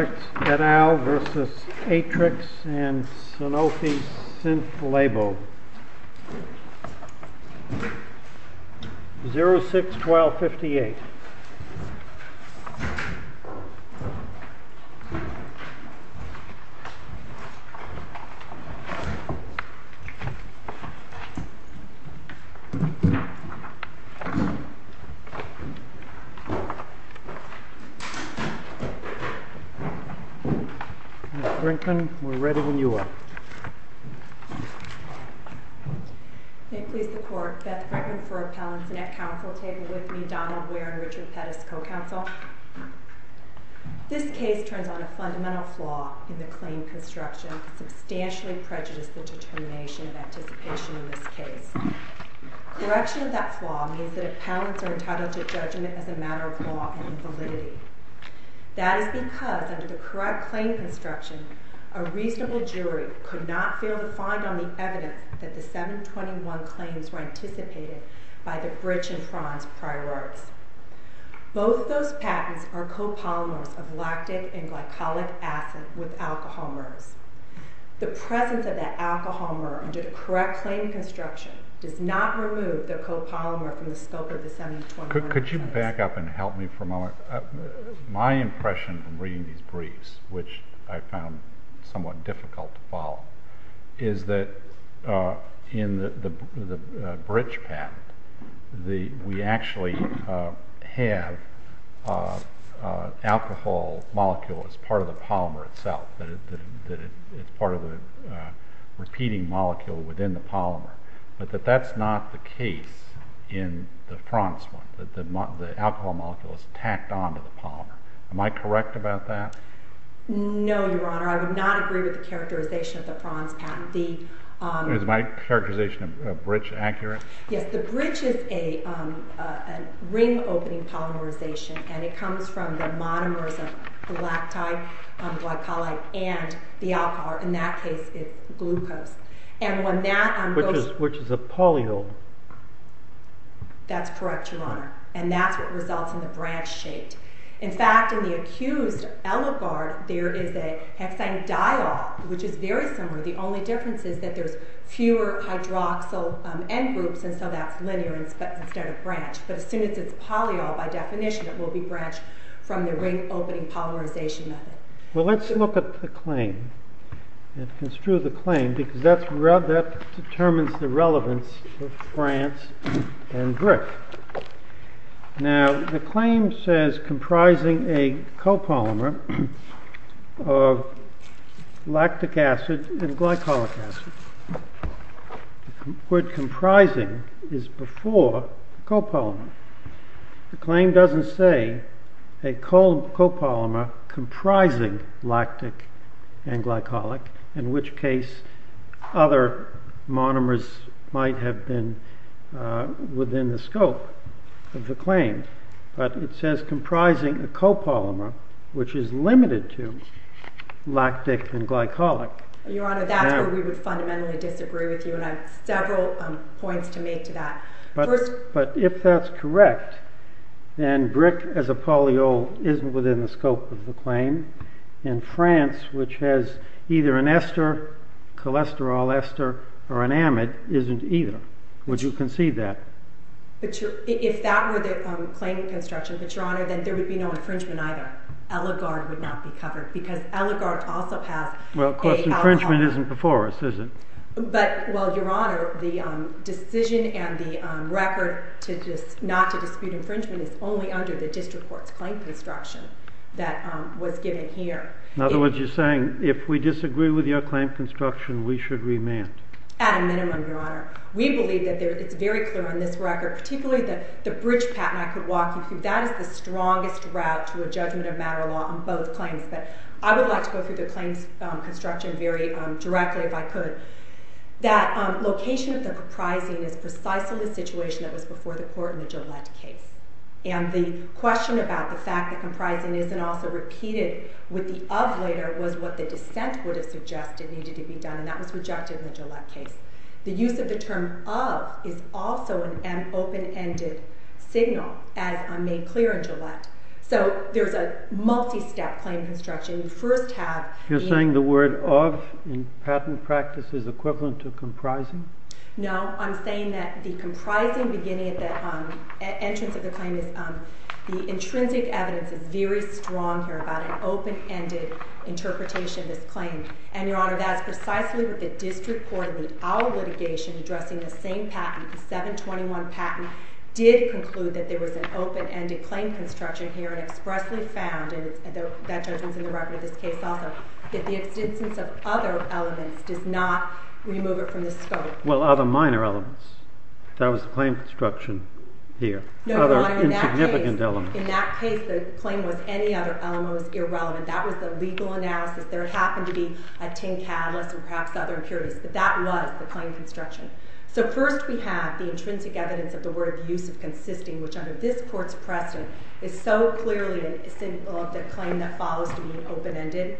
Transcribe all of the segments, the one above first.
Atrix et al. versus Atrix and Sanofi Synth Labo 06-12-58 Ms. Brinkman, we're ready when you are. May it please the Court, Beth Brinkman for Appellants, and at Council table with me Donald Ware and Richard Pettis, Co-Counsel. This case turns on a fundamental flaw in the claim construction that substantially prejudiced the determination and anticipation in this case. Correction of that flaw means that Appellants are entitled to judgment as a matter of law and validity. That is because, under the correct claim construction, a reasonable jury could not fail to find on the evidence that the 721 claims were anticipated by the Bridge and Franz Prior Arts. Both those patents are copolymers of lactic and glycolic acid with alcohol mers. The presence of that alcohol mer under the correct claim construction does not remove the copolymer from the scope of the 721 claims. Could you back up and help me for a moment? My impression from reading these briefs, which I found somewhat difficult to follow, is that in the Bridge patent, we actually have alcohol molecule as part of the polymer itself. It's part of the repeating molecule within the polymer. But that's not the case in the Franz one. The alcohol molecule is tacked on to the polymer. Am I correct about that? No, Your Honor. I would not agree with the characterization of the Franz patent. Is my characterization of Bridge accurate? Yes, the Bridge is a ring-opening polymerization, and it comes from the monomers of the lactide, glycolic, and the alcohol. In that case, it's glucose. Which is a polyole. That's correct, Your Honor. And that's what results in the branch shape. In fact, in the accused Eligard, there is a hexanediol, which is very similar. The only difference is that there's fewer hydroxyl end groups, and so that's linear instead of branch. But as soon as it's polyole, by definition, it will be branched from the ring-opening polymerization method. Well, let's look at the claim, and construe the claim, because that determines the relevance of Franz and Brick. Now, the claim says, comprising a copolymer of lactic acid and glycolic acid. The word comprising is before copolymer. The claim doesn't say a copolymer comprising lactic and glycolic, in which case other monomers might have been within the scope of the claim. But it says comprising a copolymer, which is limited to lactic and glycolic. Your Honor, that's where we would fundamentally disagree with you, and I have several points to make to that. But if that's correct, then Brick, as a polyole, isn't within the scope of the claim. And Franz, which has either an ester, cholesterol ester, or an amide, isn't either. Would you concede that? If that were the claim in construction, but Your Honor, then there would be no infringement either. Eligard would not be covered, because Eligard also has… Well, of course infringement isn't before us, is it? But, well, Your Honor, the decision and the record not to dispute infringement is only under the district court's claim construction that was given here. In other words, you're saying if we disagree with your claim construction, we should remand? At a minimum, Your Honor. We believe that it's very clear on this record, particularly the bridge patent I could walk you through. That is the strongest route to a judgment of matter of law on both claims. But I would like to go through the claims construction very directly, if I could. That location of the comprising is precisely the situation that was before the court in the Gillette case. And the question about the fact that comprising isn't also repeated with the of later was what the dissent would have suggested needed to be done. And that was rejected in the Gillette case. The use of the term of is also an open-ended signal, as made clear in Gillette. So there's a multi-step claim construction. You're saying the word of in patent practice is equivalent to comprising? No. I'm saying that the intrinsic evidence is very strong here about an open-ended interpretation of this claim. And, Your Honor, that is precisely what the district court in our litigation addressing the same patent, the 721 patent, did conclude that there was an open-ended claim construction here and expressly found, and that judgment's in the record of this case also, that the existence of other elements does not remove it from the scope. Well, other minor elements. That was the claim construction here. No, Your Honor. In that case, the claim was any other element was irrelevant. That was the legal analysis. There happened to be a tin catalyst and perhaps other impurities. But that was the claim construction. So first we have the intrinsic evidence of the word of use of consisting, which under this court's precedent is so clearly a signal of the claim that follows to be open-ended.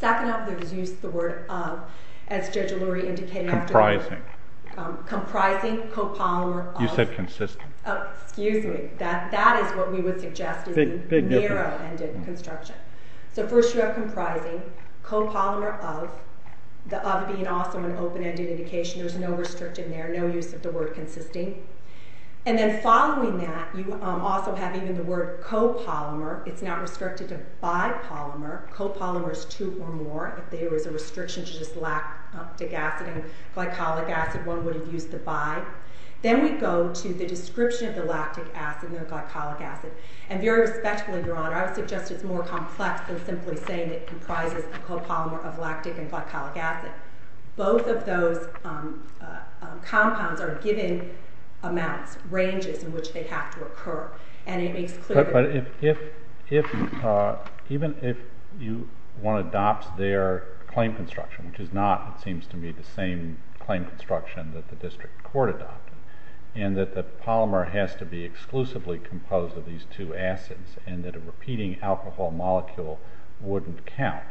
Second up, there's use of the word of, as Judge O'Leary indicated. Comprising. Comprising, copolymer of. You said consistent. Excuse me. That is what we would suggest is a narrow-ended construction. So first you have comprising, copolymer of, the of being also an open-ended indication. There's no restriction there, no use of the word consisting. And then following that, you also have even the word copolymer. It's not restricted to bipolymer. Copolymer is two or more. If there was a restriction to just lactic acid and glycolic acid, one would have used the bi. Then we go to the description of the lactic acid and the glycolic acid. And very respectfully, Your Honor, I would suggest it's more complex than simply saying it comprises the copolymer of lactic and glycolic acid. Both of those compounds are given amounts, ranges in which they have to occur. And it makes clear... But even if you want to adopt their claim construction, which is not, it seems to me, the same claim construction that the district court adopted, and that the polymer has to be exclusively composed of these two acids, and that a repeating alcohol molecule wouldn't count,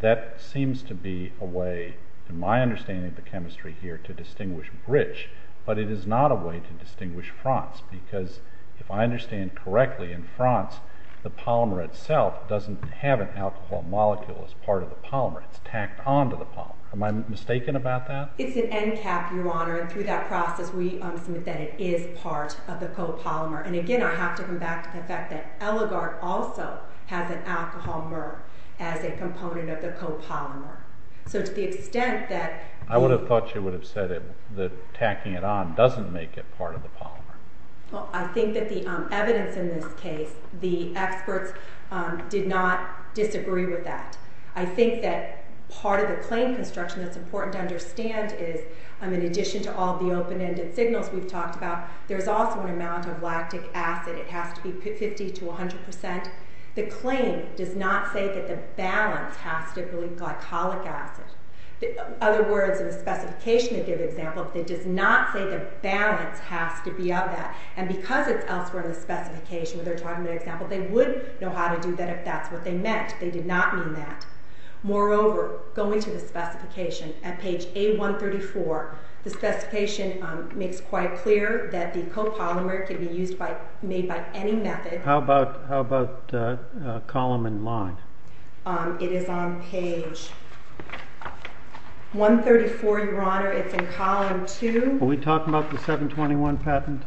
that seems to be a way, in my understanding of the chemistry here, to distinguish Britsch. But it is not a way to distinguish France, because if I understand correctly, in France, the polymer itself doesn't have an alcohol molecule as part of the polymer. It's tacked onto the polymer. Am I mistaken about that? It's an NCAP, Your Honor, and through that process we assume that it is part of the copolymer. And again, I have to come back to the fact that Eligard also has an alcohol mer as a component of the copolymer. So to the extent that... I would have thought you would have said that tacking it on doesn't make it part of the polymer. Well, I think that the evidence in this case, the experts did not disagree with that. I think that part of the claim construction that's important to understand is, in addition to all the open-ended signals we've talked about, there's also an amount of lactic acid. It has to be 50 to 100 percent. The claim does not say that the balance has to be glycolic acid. In other words, in the specification to give example, it does not say the balance has to be of that. And because it's elsewhere in the specification where they're talking about an example, they would know how to do that if that's what they meant. They did not mean that. Moreover, going to the specification, at page A134, the specification makes quite clear that the copolymer can be made by any method. How about column and line? It is on page 134, Your Honor. It's in column 2. Are we talking about the 721 patent?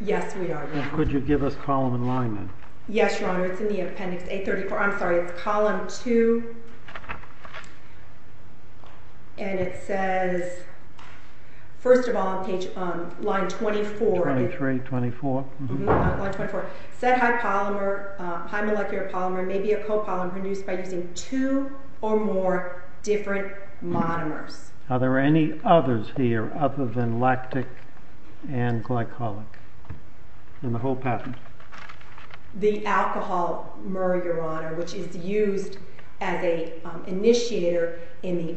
Yes, we are, Your Honor. Could you give us column and line then? Yes, Your Honor. It's in the appendix A34. I'm sorry, it's column 2. And it says, first of all, line 24. 23, 24. Line 24. Said high molecular polymer may be a copolymer produced by using two or more different monomers. Are there any others here other than lactic and glycolic in the whole patent? The alcohol myrrh, Your Honor, which is used as an initiator in the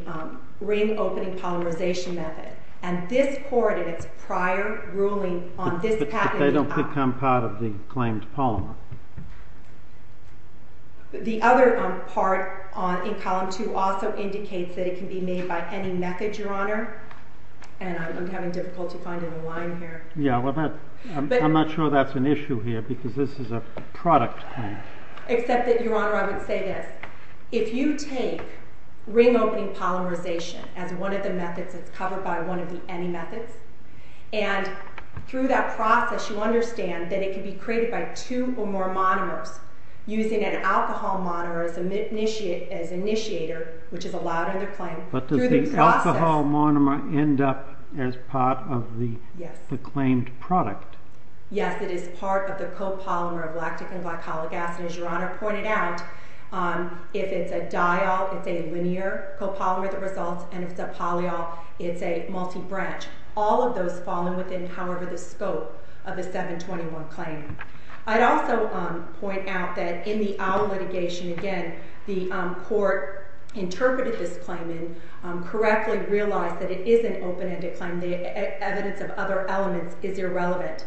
ring-opening polymerization method. And this court in its prior ruling on this patent… But they don't become part of the claimed polymer. The other part in column 2 also indicates that it can be made by any method, Your Honor. And I'm having difficulty finding the line here. I'm not sure that's an issue here because this is a product claim. Except that, Your Honor, I would say this. If you take ring-opening polymerization as one of the methods, it's covered by one of the any methods, and through that process you understand that it can be created by two or more monomers using an alcohol monomer as initiator, which is allowed under claim. But does the alcohol monomer end up as part of the claimed product? Yes, it is part of the copolymer of lactic and glycolic acid. As Your Honor pointed out, if it's a diol, it's a linear copolymer that results, and if it's a polyol, it's a multi-branch. All of those fall within, however, the scope of the 721 claim. I'd also point out that in the OWL litigation, again, the court interpreted this claim and correctly realized that it is an open-ended claim. The evidence of other elements is irrelevant.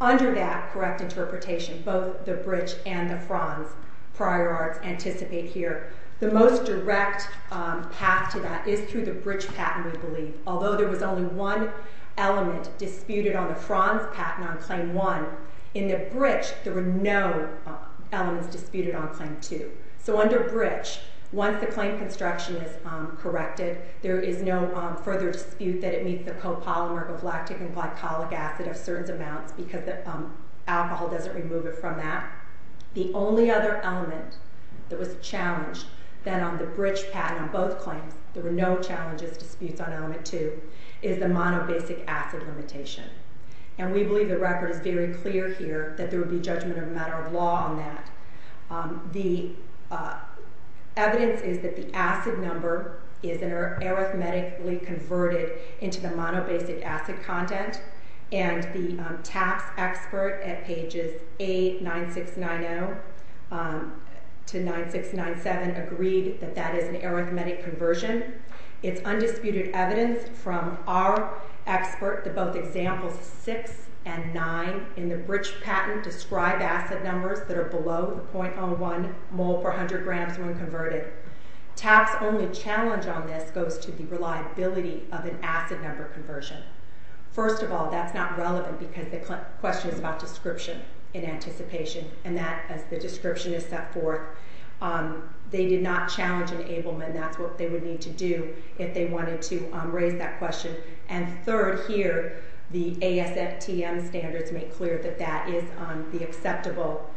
Under that correct interpretation, both the Britsch and the Franz prior arts anticipate here. The most direct path to that is through the Britsch patent, we believe. Although there was only one element disputed on the Franz patent on claim 1, in the Britsch, there were no elements disputed on claim 2. So under Britsch, once the claim construction is corrected, there is no further dispute that it meets the copolymer of lactic and glycolic acid of certain amounts because the alcohol doesn't remove it from that. The only other element that was challenged then on the Britsch patent on both claims, there were no challenges, disputes on element 2, is the monobasic acid limitation. And we believe the record is very clear here that there would be judgment of a matter of law on that. The evidence is that the acid number is arithmetically converted into the monobasic acid content and the TAPS expert at pages 8, 9690 to 9697 agreed that that is an arithmetic conversion. It's undisputed evidence from our expert that both examples 6 and 9 in the Britsch patent describe acid numbers that are below the 0.01 mole per 100 grams when converted. TAPS' only challenge on this goes to the reliability of an acid number conversion. First of all, that's not relevant because the question is about description in anticipation and that, as the description is set forth, they did not challenge enablement. And that's what they would need to do if they wanted to raise that question. And third here, the ASFTM standards make clear that that is the acceptable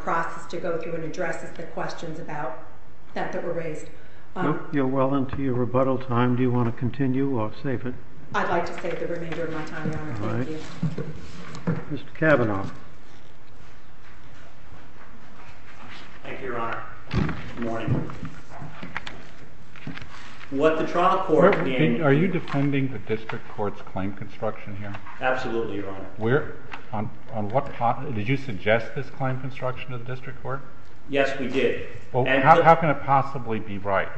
process to go through and address the questions that were raised. Well, until your rebuttal time, do you want to continue or save it? I'd like to save the remainder of my time, Your Honor. Thank you. Mr. Kavanaugh. Thank you, Your Honor. Good morning. Are you defending the district court's claim construction here? Absolutely, Your Honor. Did you suggest this claim construction to the district court? Yes, we did. How can it possibly be right?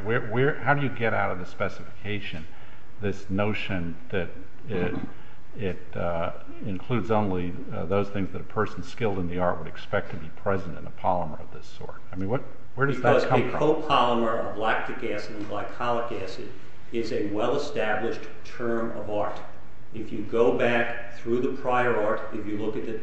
How do you get out of the specification, this notion that it includes only those things that a person skilled in the art would expect to be present in a polymer of this sort? I mean, where does that come from? Because a copolymer of lactic acid and glycolic acid is a well-established term of art. If you go back through the prior art, if you look at the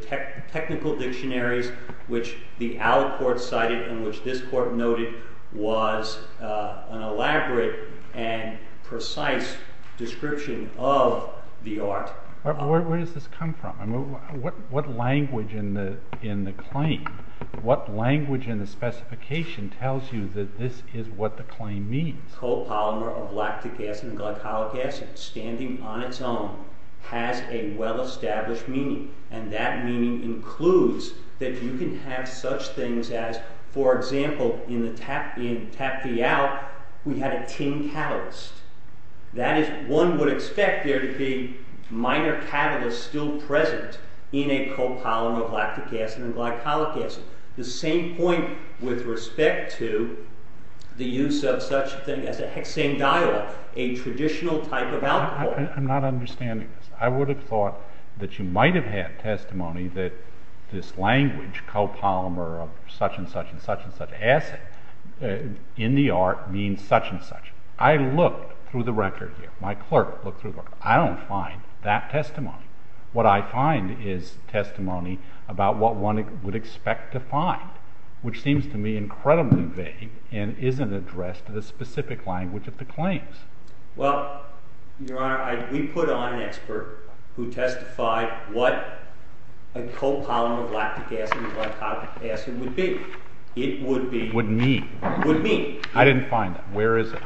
technical dictionaries which the ALA court cited and which this court noted was an elaborate and precise description of the art. Where does this come from? What language in the claim, what language in the specification tells you that this is what the claim means? A copolymer of lactic acid and glycolic acid standing on its own has a well-established meaning. And that meaning includes that you can have such things as, for example, in Taphial, we had a tin catalyst. That is, one would expect there to be minor catalysts still present in a copolymer of lactic acid and glycolic acid. The same point with respect to the use of such a thing as a hexanediol, a traditional type of alcohol. I'm not understanding this. I would have thought that you might have had testimony that this language, copolymer of such and such and such and such acid, in the art, means such and such. I looked through the record here. My clerk looked through the record. I don't find that testimony. What I find is testimony about what one would expect to find, which seems to me incredibly vague and isn't addressed in the specific language of the claims. Well, Your Honor, we put on an expert who testified what a copolymer of lactic acid and glycolic acid would be. It would be... Would mean... I didn't find that. Where is it?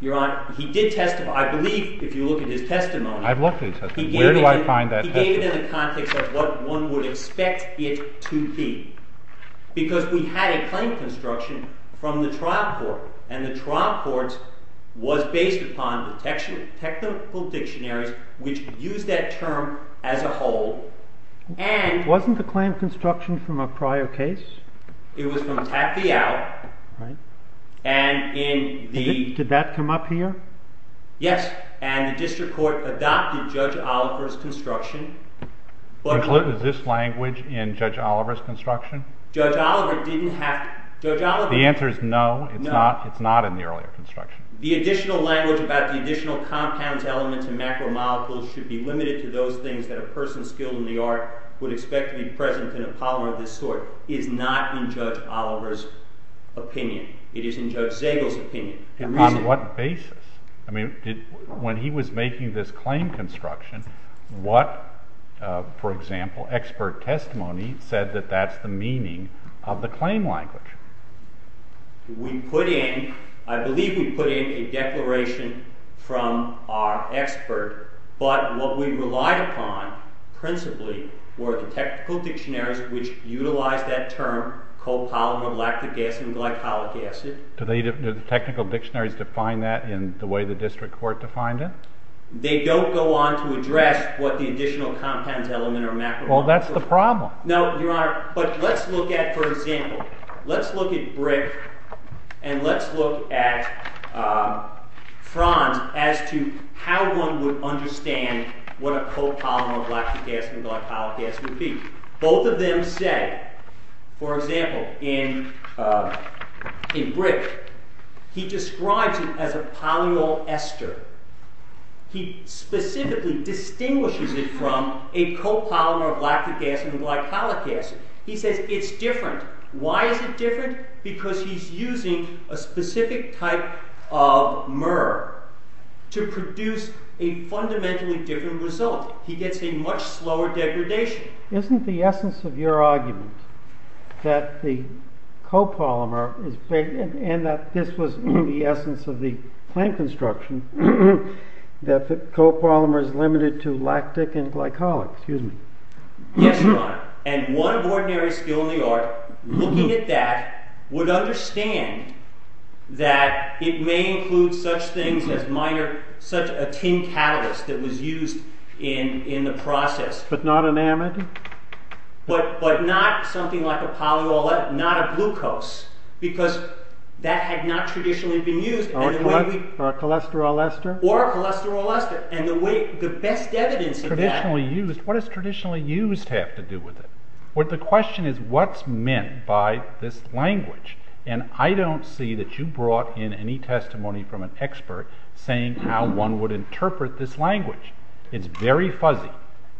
Your Honor, he did testify. I believe, if you look at his testimony... I've looked at his testimony. Where do I find that testimony? He gave it in the context of what one would expect it to be. Because we had a claim construction from the trial court. And the trial court was based upon the technical dictionaries which used that term as a whole. And... Wasn't the claim construction from a prior case? It was from Tack v. Out. Right. And in the... Did that come up here? Yes. And the district court adopted Judge Oliver's construction. Is this language in Judge Oliver's construction? Judge Oliver didn't have... The answer is no. It's not in the earlier construction. The additional language about the additional compounds, elements, and macromolecules should be limited to those things that a person skilled in the art would expect to be present in a polymer of this sort and not in Judge Oliver's opinion. It is in Judge Zagel's opinion. And on what basis? I mean, when he was making this claim construction, what, for example, expert testimony said that that's the meaning of the claim language? We put in... I believe we put in a declaration from our expert, but what we relied upon principally were the technical dictionaries which utilized that term copolymer of lactic acid and glycolic acid. Do the technical dictionaries define that in the way the district court defined it? They don't go on to address what the additional compounds, elements, or macromolecules... Well, that's the problem. No, Your Honor, but let's look at, for example, let's look at Brick and let's look at Franz as to how one would understand what a copolymer of lactic acid and glycolic acid would be. Franz said, for example, in Brick, he describes it as a polyol ester. He specifically distinguishes it from a copolymer of lactic acid and glycolic acid. He says it's different. Why is it different? Because he's using a specific type of myrrh to produce a fundamentally different result. He gets a much slower degradation. Isn't the essence of your argument that the copolymer is big and that this was the essence of the plant construction, that the copolymer is limited to lactic and glycolic? Yes, Your Honor, and one of ordinary skill in the art looking at that would understand that it may include such things as minor, such a tin catalyst that was used in the process. But not an amide? But not something like a polyol ester, not a glucose, because that had not traditionally been used. Or a cholesterol ester? Or a cholesterol ester. What does traditionally used have to do with it? The question is what's meant by this language? And I don't see that you brought in any testimony from an expert saying how one would interpret this language. It's very fuzzy.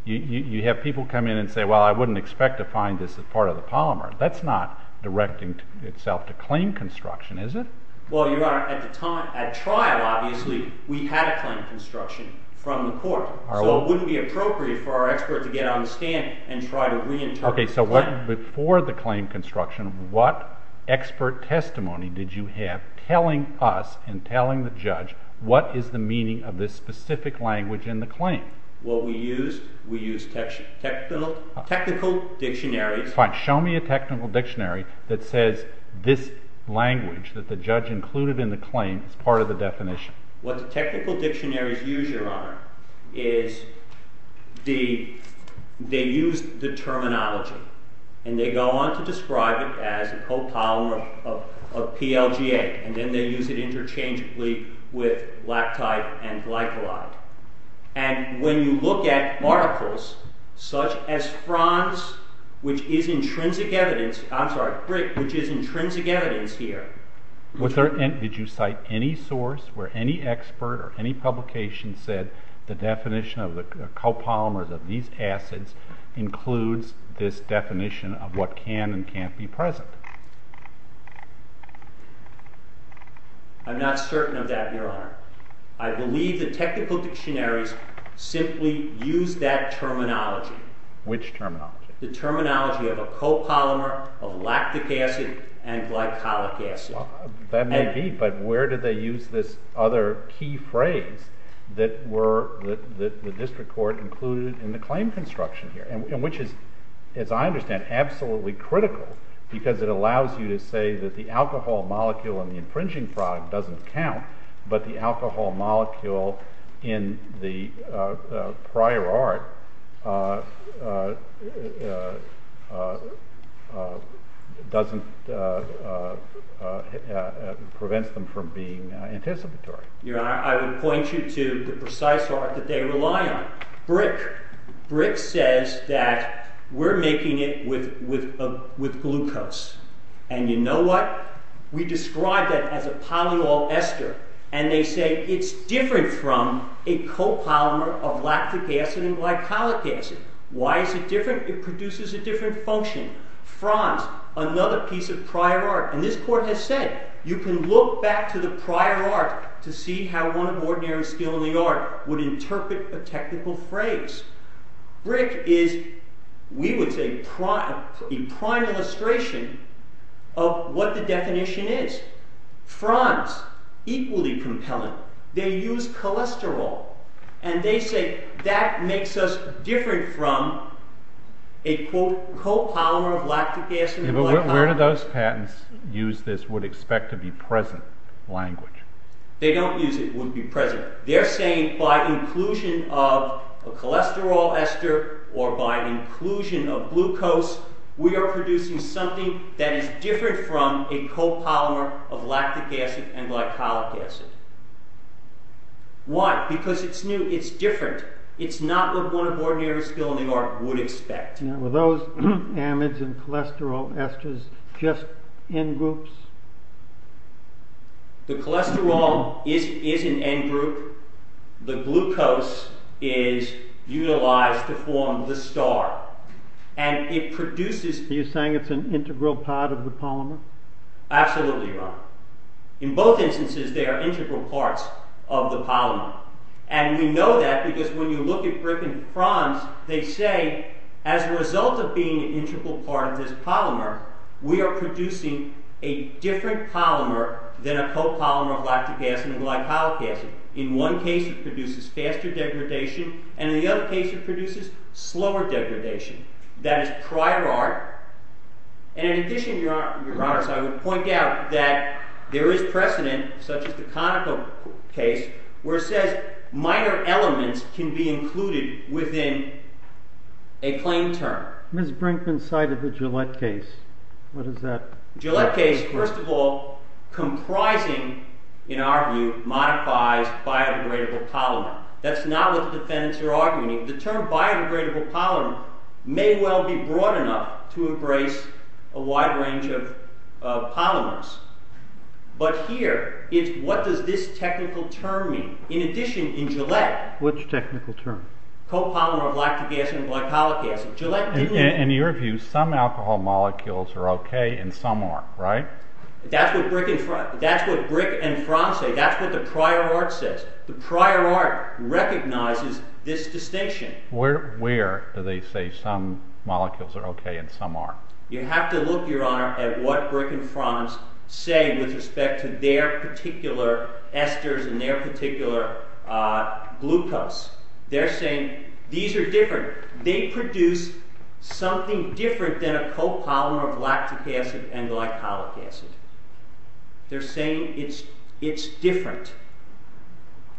You have people come in and say, well, I wouldn't expect to find this as part of the polymer. That's not directing itself to claim construction, is it? Well, Your Honor, at trial, obviously, we had a claim construction from the court. So it wouldn't be appropriate for our expert to get on the stand and try to reinterpret the claim. Okay, so before the claim construction, what expert testimony did you have telling us and telling the judge what is the meaning of this specific language in the claim? What we used, we used technical dictionaries. Fine, show me a technical dictionary that says this language that the judge included in the claim is part of the definition. What the technical dictionaries use, Your Honor, is they use the terminology, and they go on to describe it as a copolymer of PLGA, and then they use it interchangeably with lactide and glycolide. And when you look at particles, such as fronds, which is intrinsic evidence, I'm sorry, brick, which is intrinsic evidence here. Did you cite any source where any expert or any publication said the definition of the copolymers of these acids includes this definition of what can and can't be present? I'm not certain of that, Your Honor. I believe the technical dictionaries simply use that terminology. Which terminology? The terminology of a copolymer of lactic acid and glycolic acid. That may be, but where do they use this other key phrase that the district court included in the claim construction here, which is, as I understand, absolutely critical because it allows you to say that the alcohol molecule in the infringing product doesn't count, but the alcohol molecule in the prior art prevents them from being anticipatory. Your Honor, I would point you to the precise art that they rely on, brick. Brick says that we're making it with glucose. And you know what? We describe that as a polyol ester, and they say it's different from a copolymer of lactic acid and glycolic acid. Why is it different? It produces a different function. Franz, another piece of prior art. And this court has said, you can look back to the prior art to see how one ordinary skill in the art would interpret a technical phrase. Brick is, we would say, a prime illustration of what the definition is. Franz, equally compelling. They use cholesterol, and they say that makes us different from a, quote, copolymer of lactic acid and glycolic acid. But where do those patents use this would-expect-to-be-present language? They don't use it would-be-present. They're saying by inclusion of a cholesterol ester or by inclusion of glucose, we are producing something that is different from a copolymer of lactic acid and glycolic acid. Why? Because it's new, it's different. It's not what one ordinary skill in the art would expect. Were those amides and cholesterol esters just end groups? The cholesterol is an end group. The glucose is utilized to form the star. And it produces... Are you saying it's an integral part of the polymer? Absolutely, Your Honor. In both instances, they are integral parts of the polymer. And we know that because when you look at Griffin-Franz, they say as a result of being an integral part of this polymer, we are producing a different polymer than a copolymer of lactic acid and glycolic acid. In one case, it produces faster degradation, and in the other case, it produces slower degradation. That is prior art. And in addition, Your Honor, I would point out that there is precedent, such as the Conoco case, where it says minor elements can be included within a plain term. Ms. Brinkman cited the Gillette case. What does that... Gillette case, first of all, comprising, in our view, modifies biodegradable polymer. That's not what the defendants are arguing. The term biodegradable polymer may well be broad enough to embrace a wide range of polymers. But here, what does this technical term mean? In addition, in Gillette... Which technical term? Copolymer of lactic acid and glycolic acid. In your view, some alcohol molecules are okay, and some aren't, right? That's what Brinkman and Franz say. That's what the prior art says. The prior art recognizes this distinction. Where do they say some molecules are okay and some aren't? You have to look, Your Honor, at what Brinkman and Franz say with respect to their particular esters and their particular glucose. They're saying these are different. They produce something different than a copolymer of lactic acid and glycolic acid. They're saying it's different.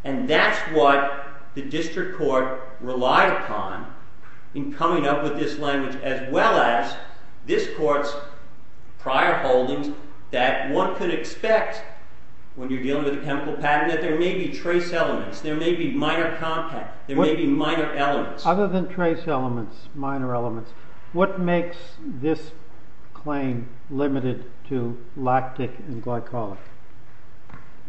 And that's what the district court relies on in coming up with this language, as well as this court's prior holdings, that one could expect when you're dealing with a chemical patent that there may be trace elements, there may be minor contact, there may be minor elements. Other than trace elements, minor elements, what makes this claim limited to lactic and glycolic?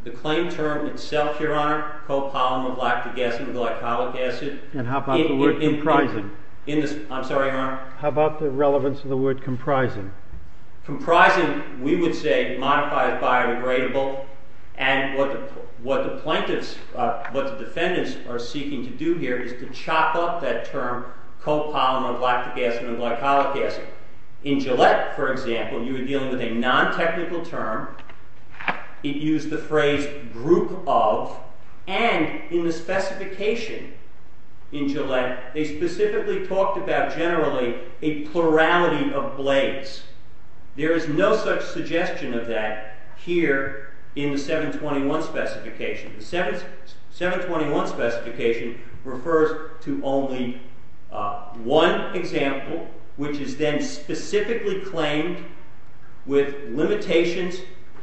The claim term itself, Your Honor, copolymer of lactic acid and glycolic acid... And how about the word comprising? I'm sorry, Your Honor? How about the relevance of the word comprising? Comprising, we would say, modifies biodegradable. And what the plaintiffs, what the defendants are seeking to do here is to chop up that term copolymer of lactic acid and glycolic acid. In Gillette, for example, you were dealing with a non-technical term. It used the phrase group of, and in the specification in Gillette, they specifically talked about generally a plurality of blades. There is no such suggestion of that here in the 721 specification. The 721 specification refers to only one example, which is then specifically claimed with limitations,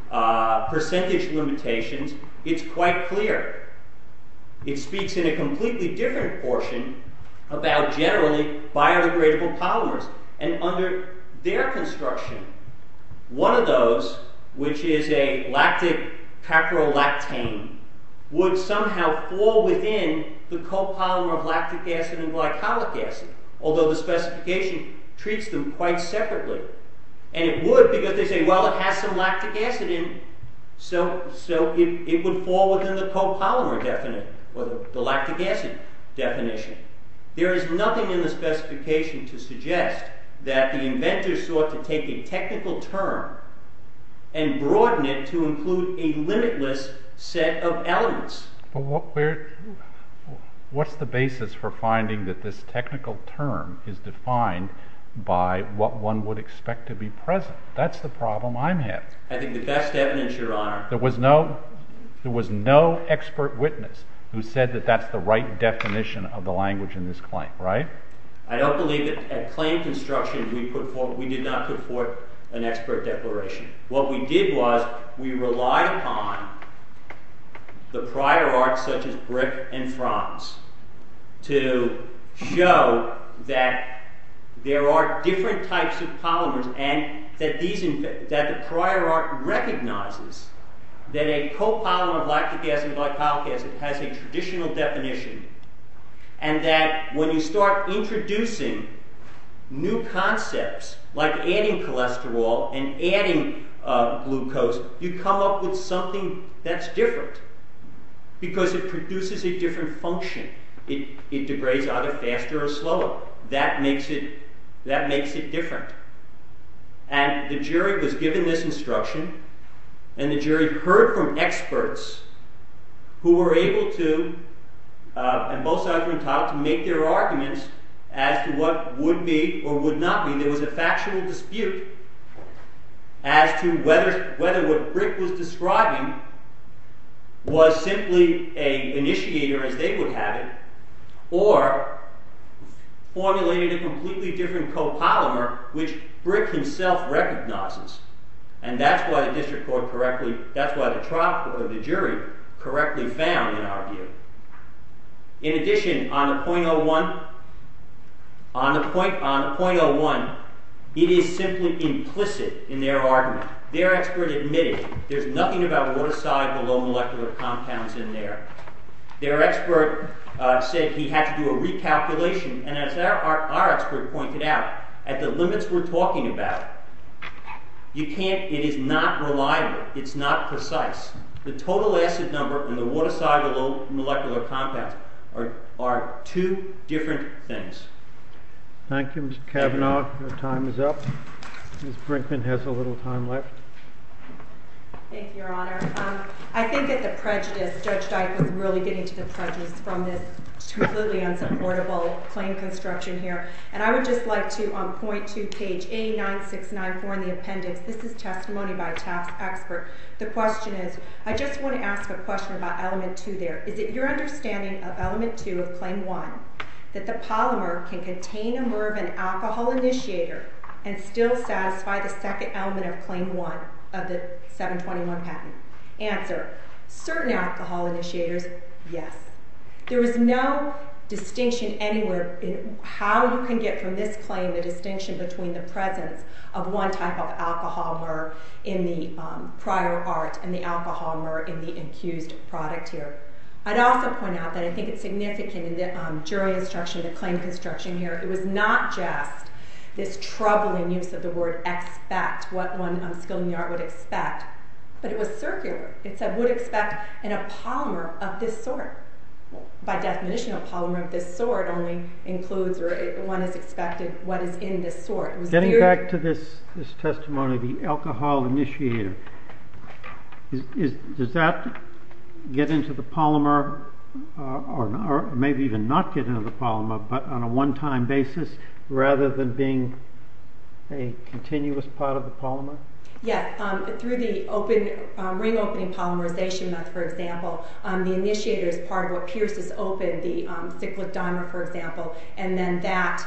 percentage limitations. It's quite clear. It speaks in a completely different portion about generally biodegradable polymers. And under their construction, one of those, which is a lactic caprolactane, would somehow fall within the copolymer of lactic acid and glycolic acid, although the specification treats them quite separately. And it would because they say, well, it has some lactic acid in it, so it would fall within the copolymer definition, or the lactic acid definition. There is nothing in the specification to suggest that the inventor sought to take a technical term and broaden it to include a limitless set of elements. What's the basis for finding that this technical term is defined by what one would expect to be present? That's the problem I'm having. There was no expert witness who said that that's the right definition of the language in this claim, right? I don't believe that at claim construction we did not put forth an expert declaration. What we did was, we relied upon the prior art such as Brick and Franz to show that there are different types of polymers and that the prior art recognizes that a copolymer of lactic acid and glycolic acid has a traditional definition and that when you start introducing new concepts like adding cholesterol and adding glucose, you come up with something that's different because it produces a different function. It degrades either faster or slower. That makes it different. And the jury was given this instruction and the jury heard from experts who were able to, and both sides were entitled to make their arguments as to what would be or would not be. There was a factional dispute as to whether what Brick was describing was simply an initiator as they would have it or formulated a completely different copolymer which Brick himself recognizes. And that's why the district court correctly, that's why the jury correctly found in our view. In addition, on the .01, on the .01, it is simply implicit in their argument. Their expert admitted there's nothing about what aside the low molecular compounds in there. Their expert said he had to do a recalculation and as our expert pointed out, at the limits we're talking about, you can't, it is not reliable. It's not precise. The total acid number and the what aside the low molecular compounds are two different things. Thank you, Mr. Cavanaugh. Your time is up. Ms. Brinkman has a little time left. Thank you, Your Honor. I think that the prejudice, Judge Dyke was really getting to the prejudice from this completely unsupportable claim construction here. And I would just like to, on page 1.2, page 89694 in the appendix, this is testimony by a TAF expert. The question is, I just want to ask a question about element two there. Is it your understanding of element two of claim one that the polymer can contain a more of an alcohol initiator and still satisfy the second element of claim one of the 721 patent? Answer, certain alcohol initiators, yes. There is no distinction anywhere in how you can get from this claim distinction between the presence of one type of alcohol mer in the prior art and the alcohol mer in the accused product here. I'd also point out that I think it's significant in the jury instruction, the claim construction here, it was not just this troubling use of the word expect, what one skilled in the art would expect, but it was circular. It said, would expect in a polymer of this sort. Getting back to this testimony, the alcohol initiator, does that get into the polymer, or maybe even not get into the polymer, but on a one-time basis rather than being a continuous part of the polymer? Yes. Through the ring-opening polymerization method, for example, the initiator is part of what pierces open the cyclic dimer, for example, and then that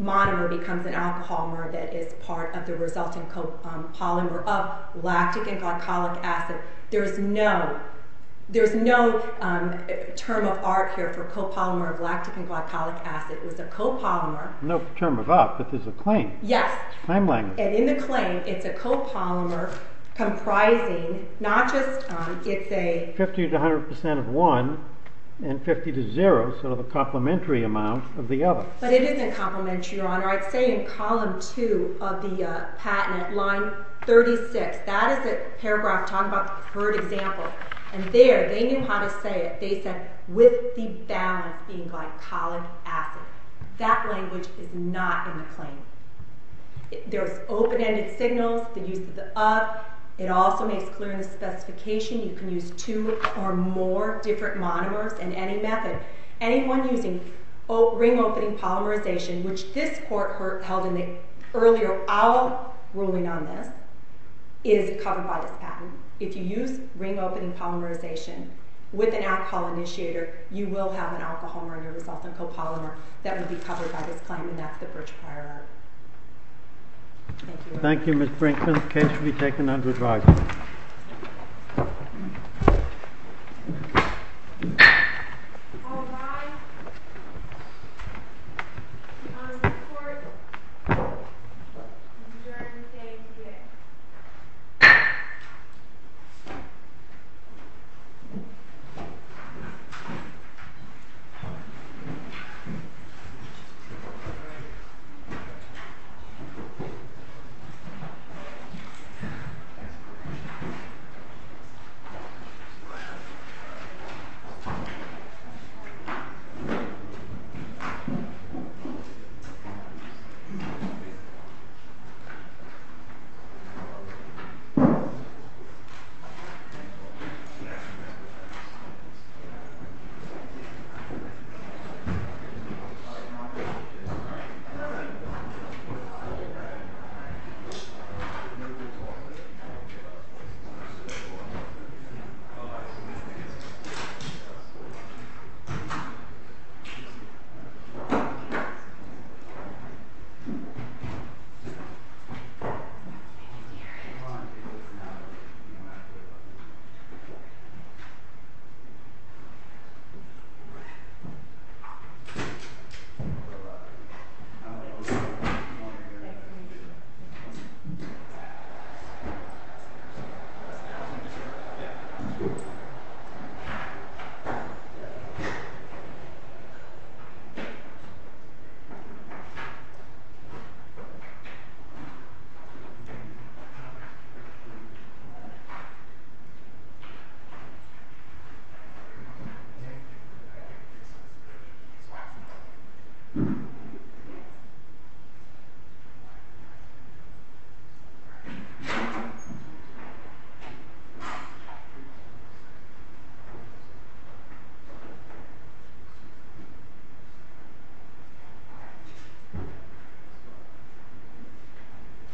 monomer becomes an alcohol mer that is part of the resulting copolymer up, lactic and glycolic acid. There's no term of art here for copolymer of lactic and glycolic acid. It was a copolymer. No term of up, but there's a claim. Yes. And in the claim, it's a copolymer comprising 50 to 100 percent of one and 50 to 0, sort of a complementary amount of the other. But it isn't complementary, Your Honor. I'd say in column 2 of the patent, line 36, that is the paragraph talking about the preferred example. And there, they knew how to say it. They said, with the balance being glycolic acid. That language is not in the claim. There's open-ended signals, the use of the up. It also makes clear in the specification you can use two or more different monomers in any method. Anyone using ring-opening polymerization, which this court held in the earlier Owell ruling on this, is covered by this patent. If you use ring-opening polymerization with an alcohol initiator, you will have an alcohol murder result in copolymer that will be covered by this claim, and that's the bridge prior art. Thank you, Your Honor. Thank you, Ms. Brinkman. The case will be taken under trial. All rise. The Honorable Court adjourns the case today. Thank you. Thank you.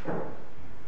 Thank you. Thank you.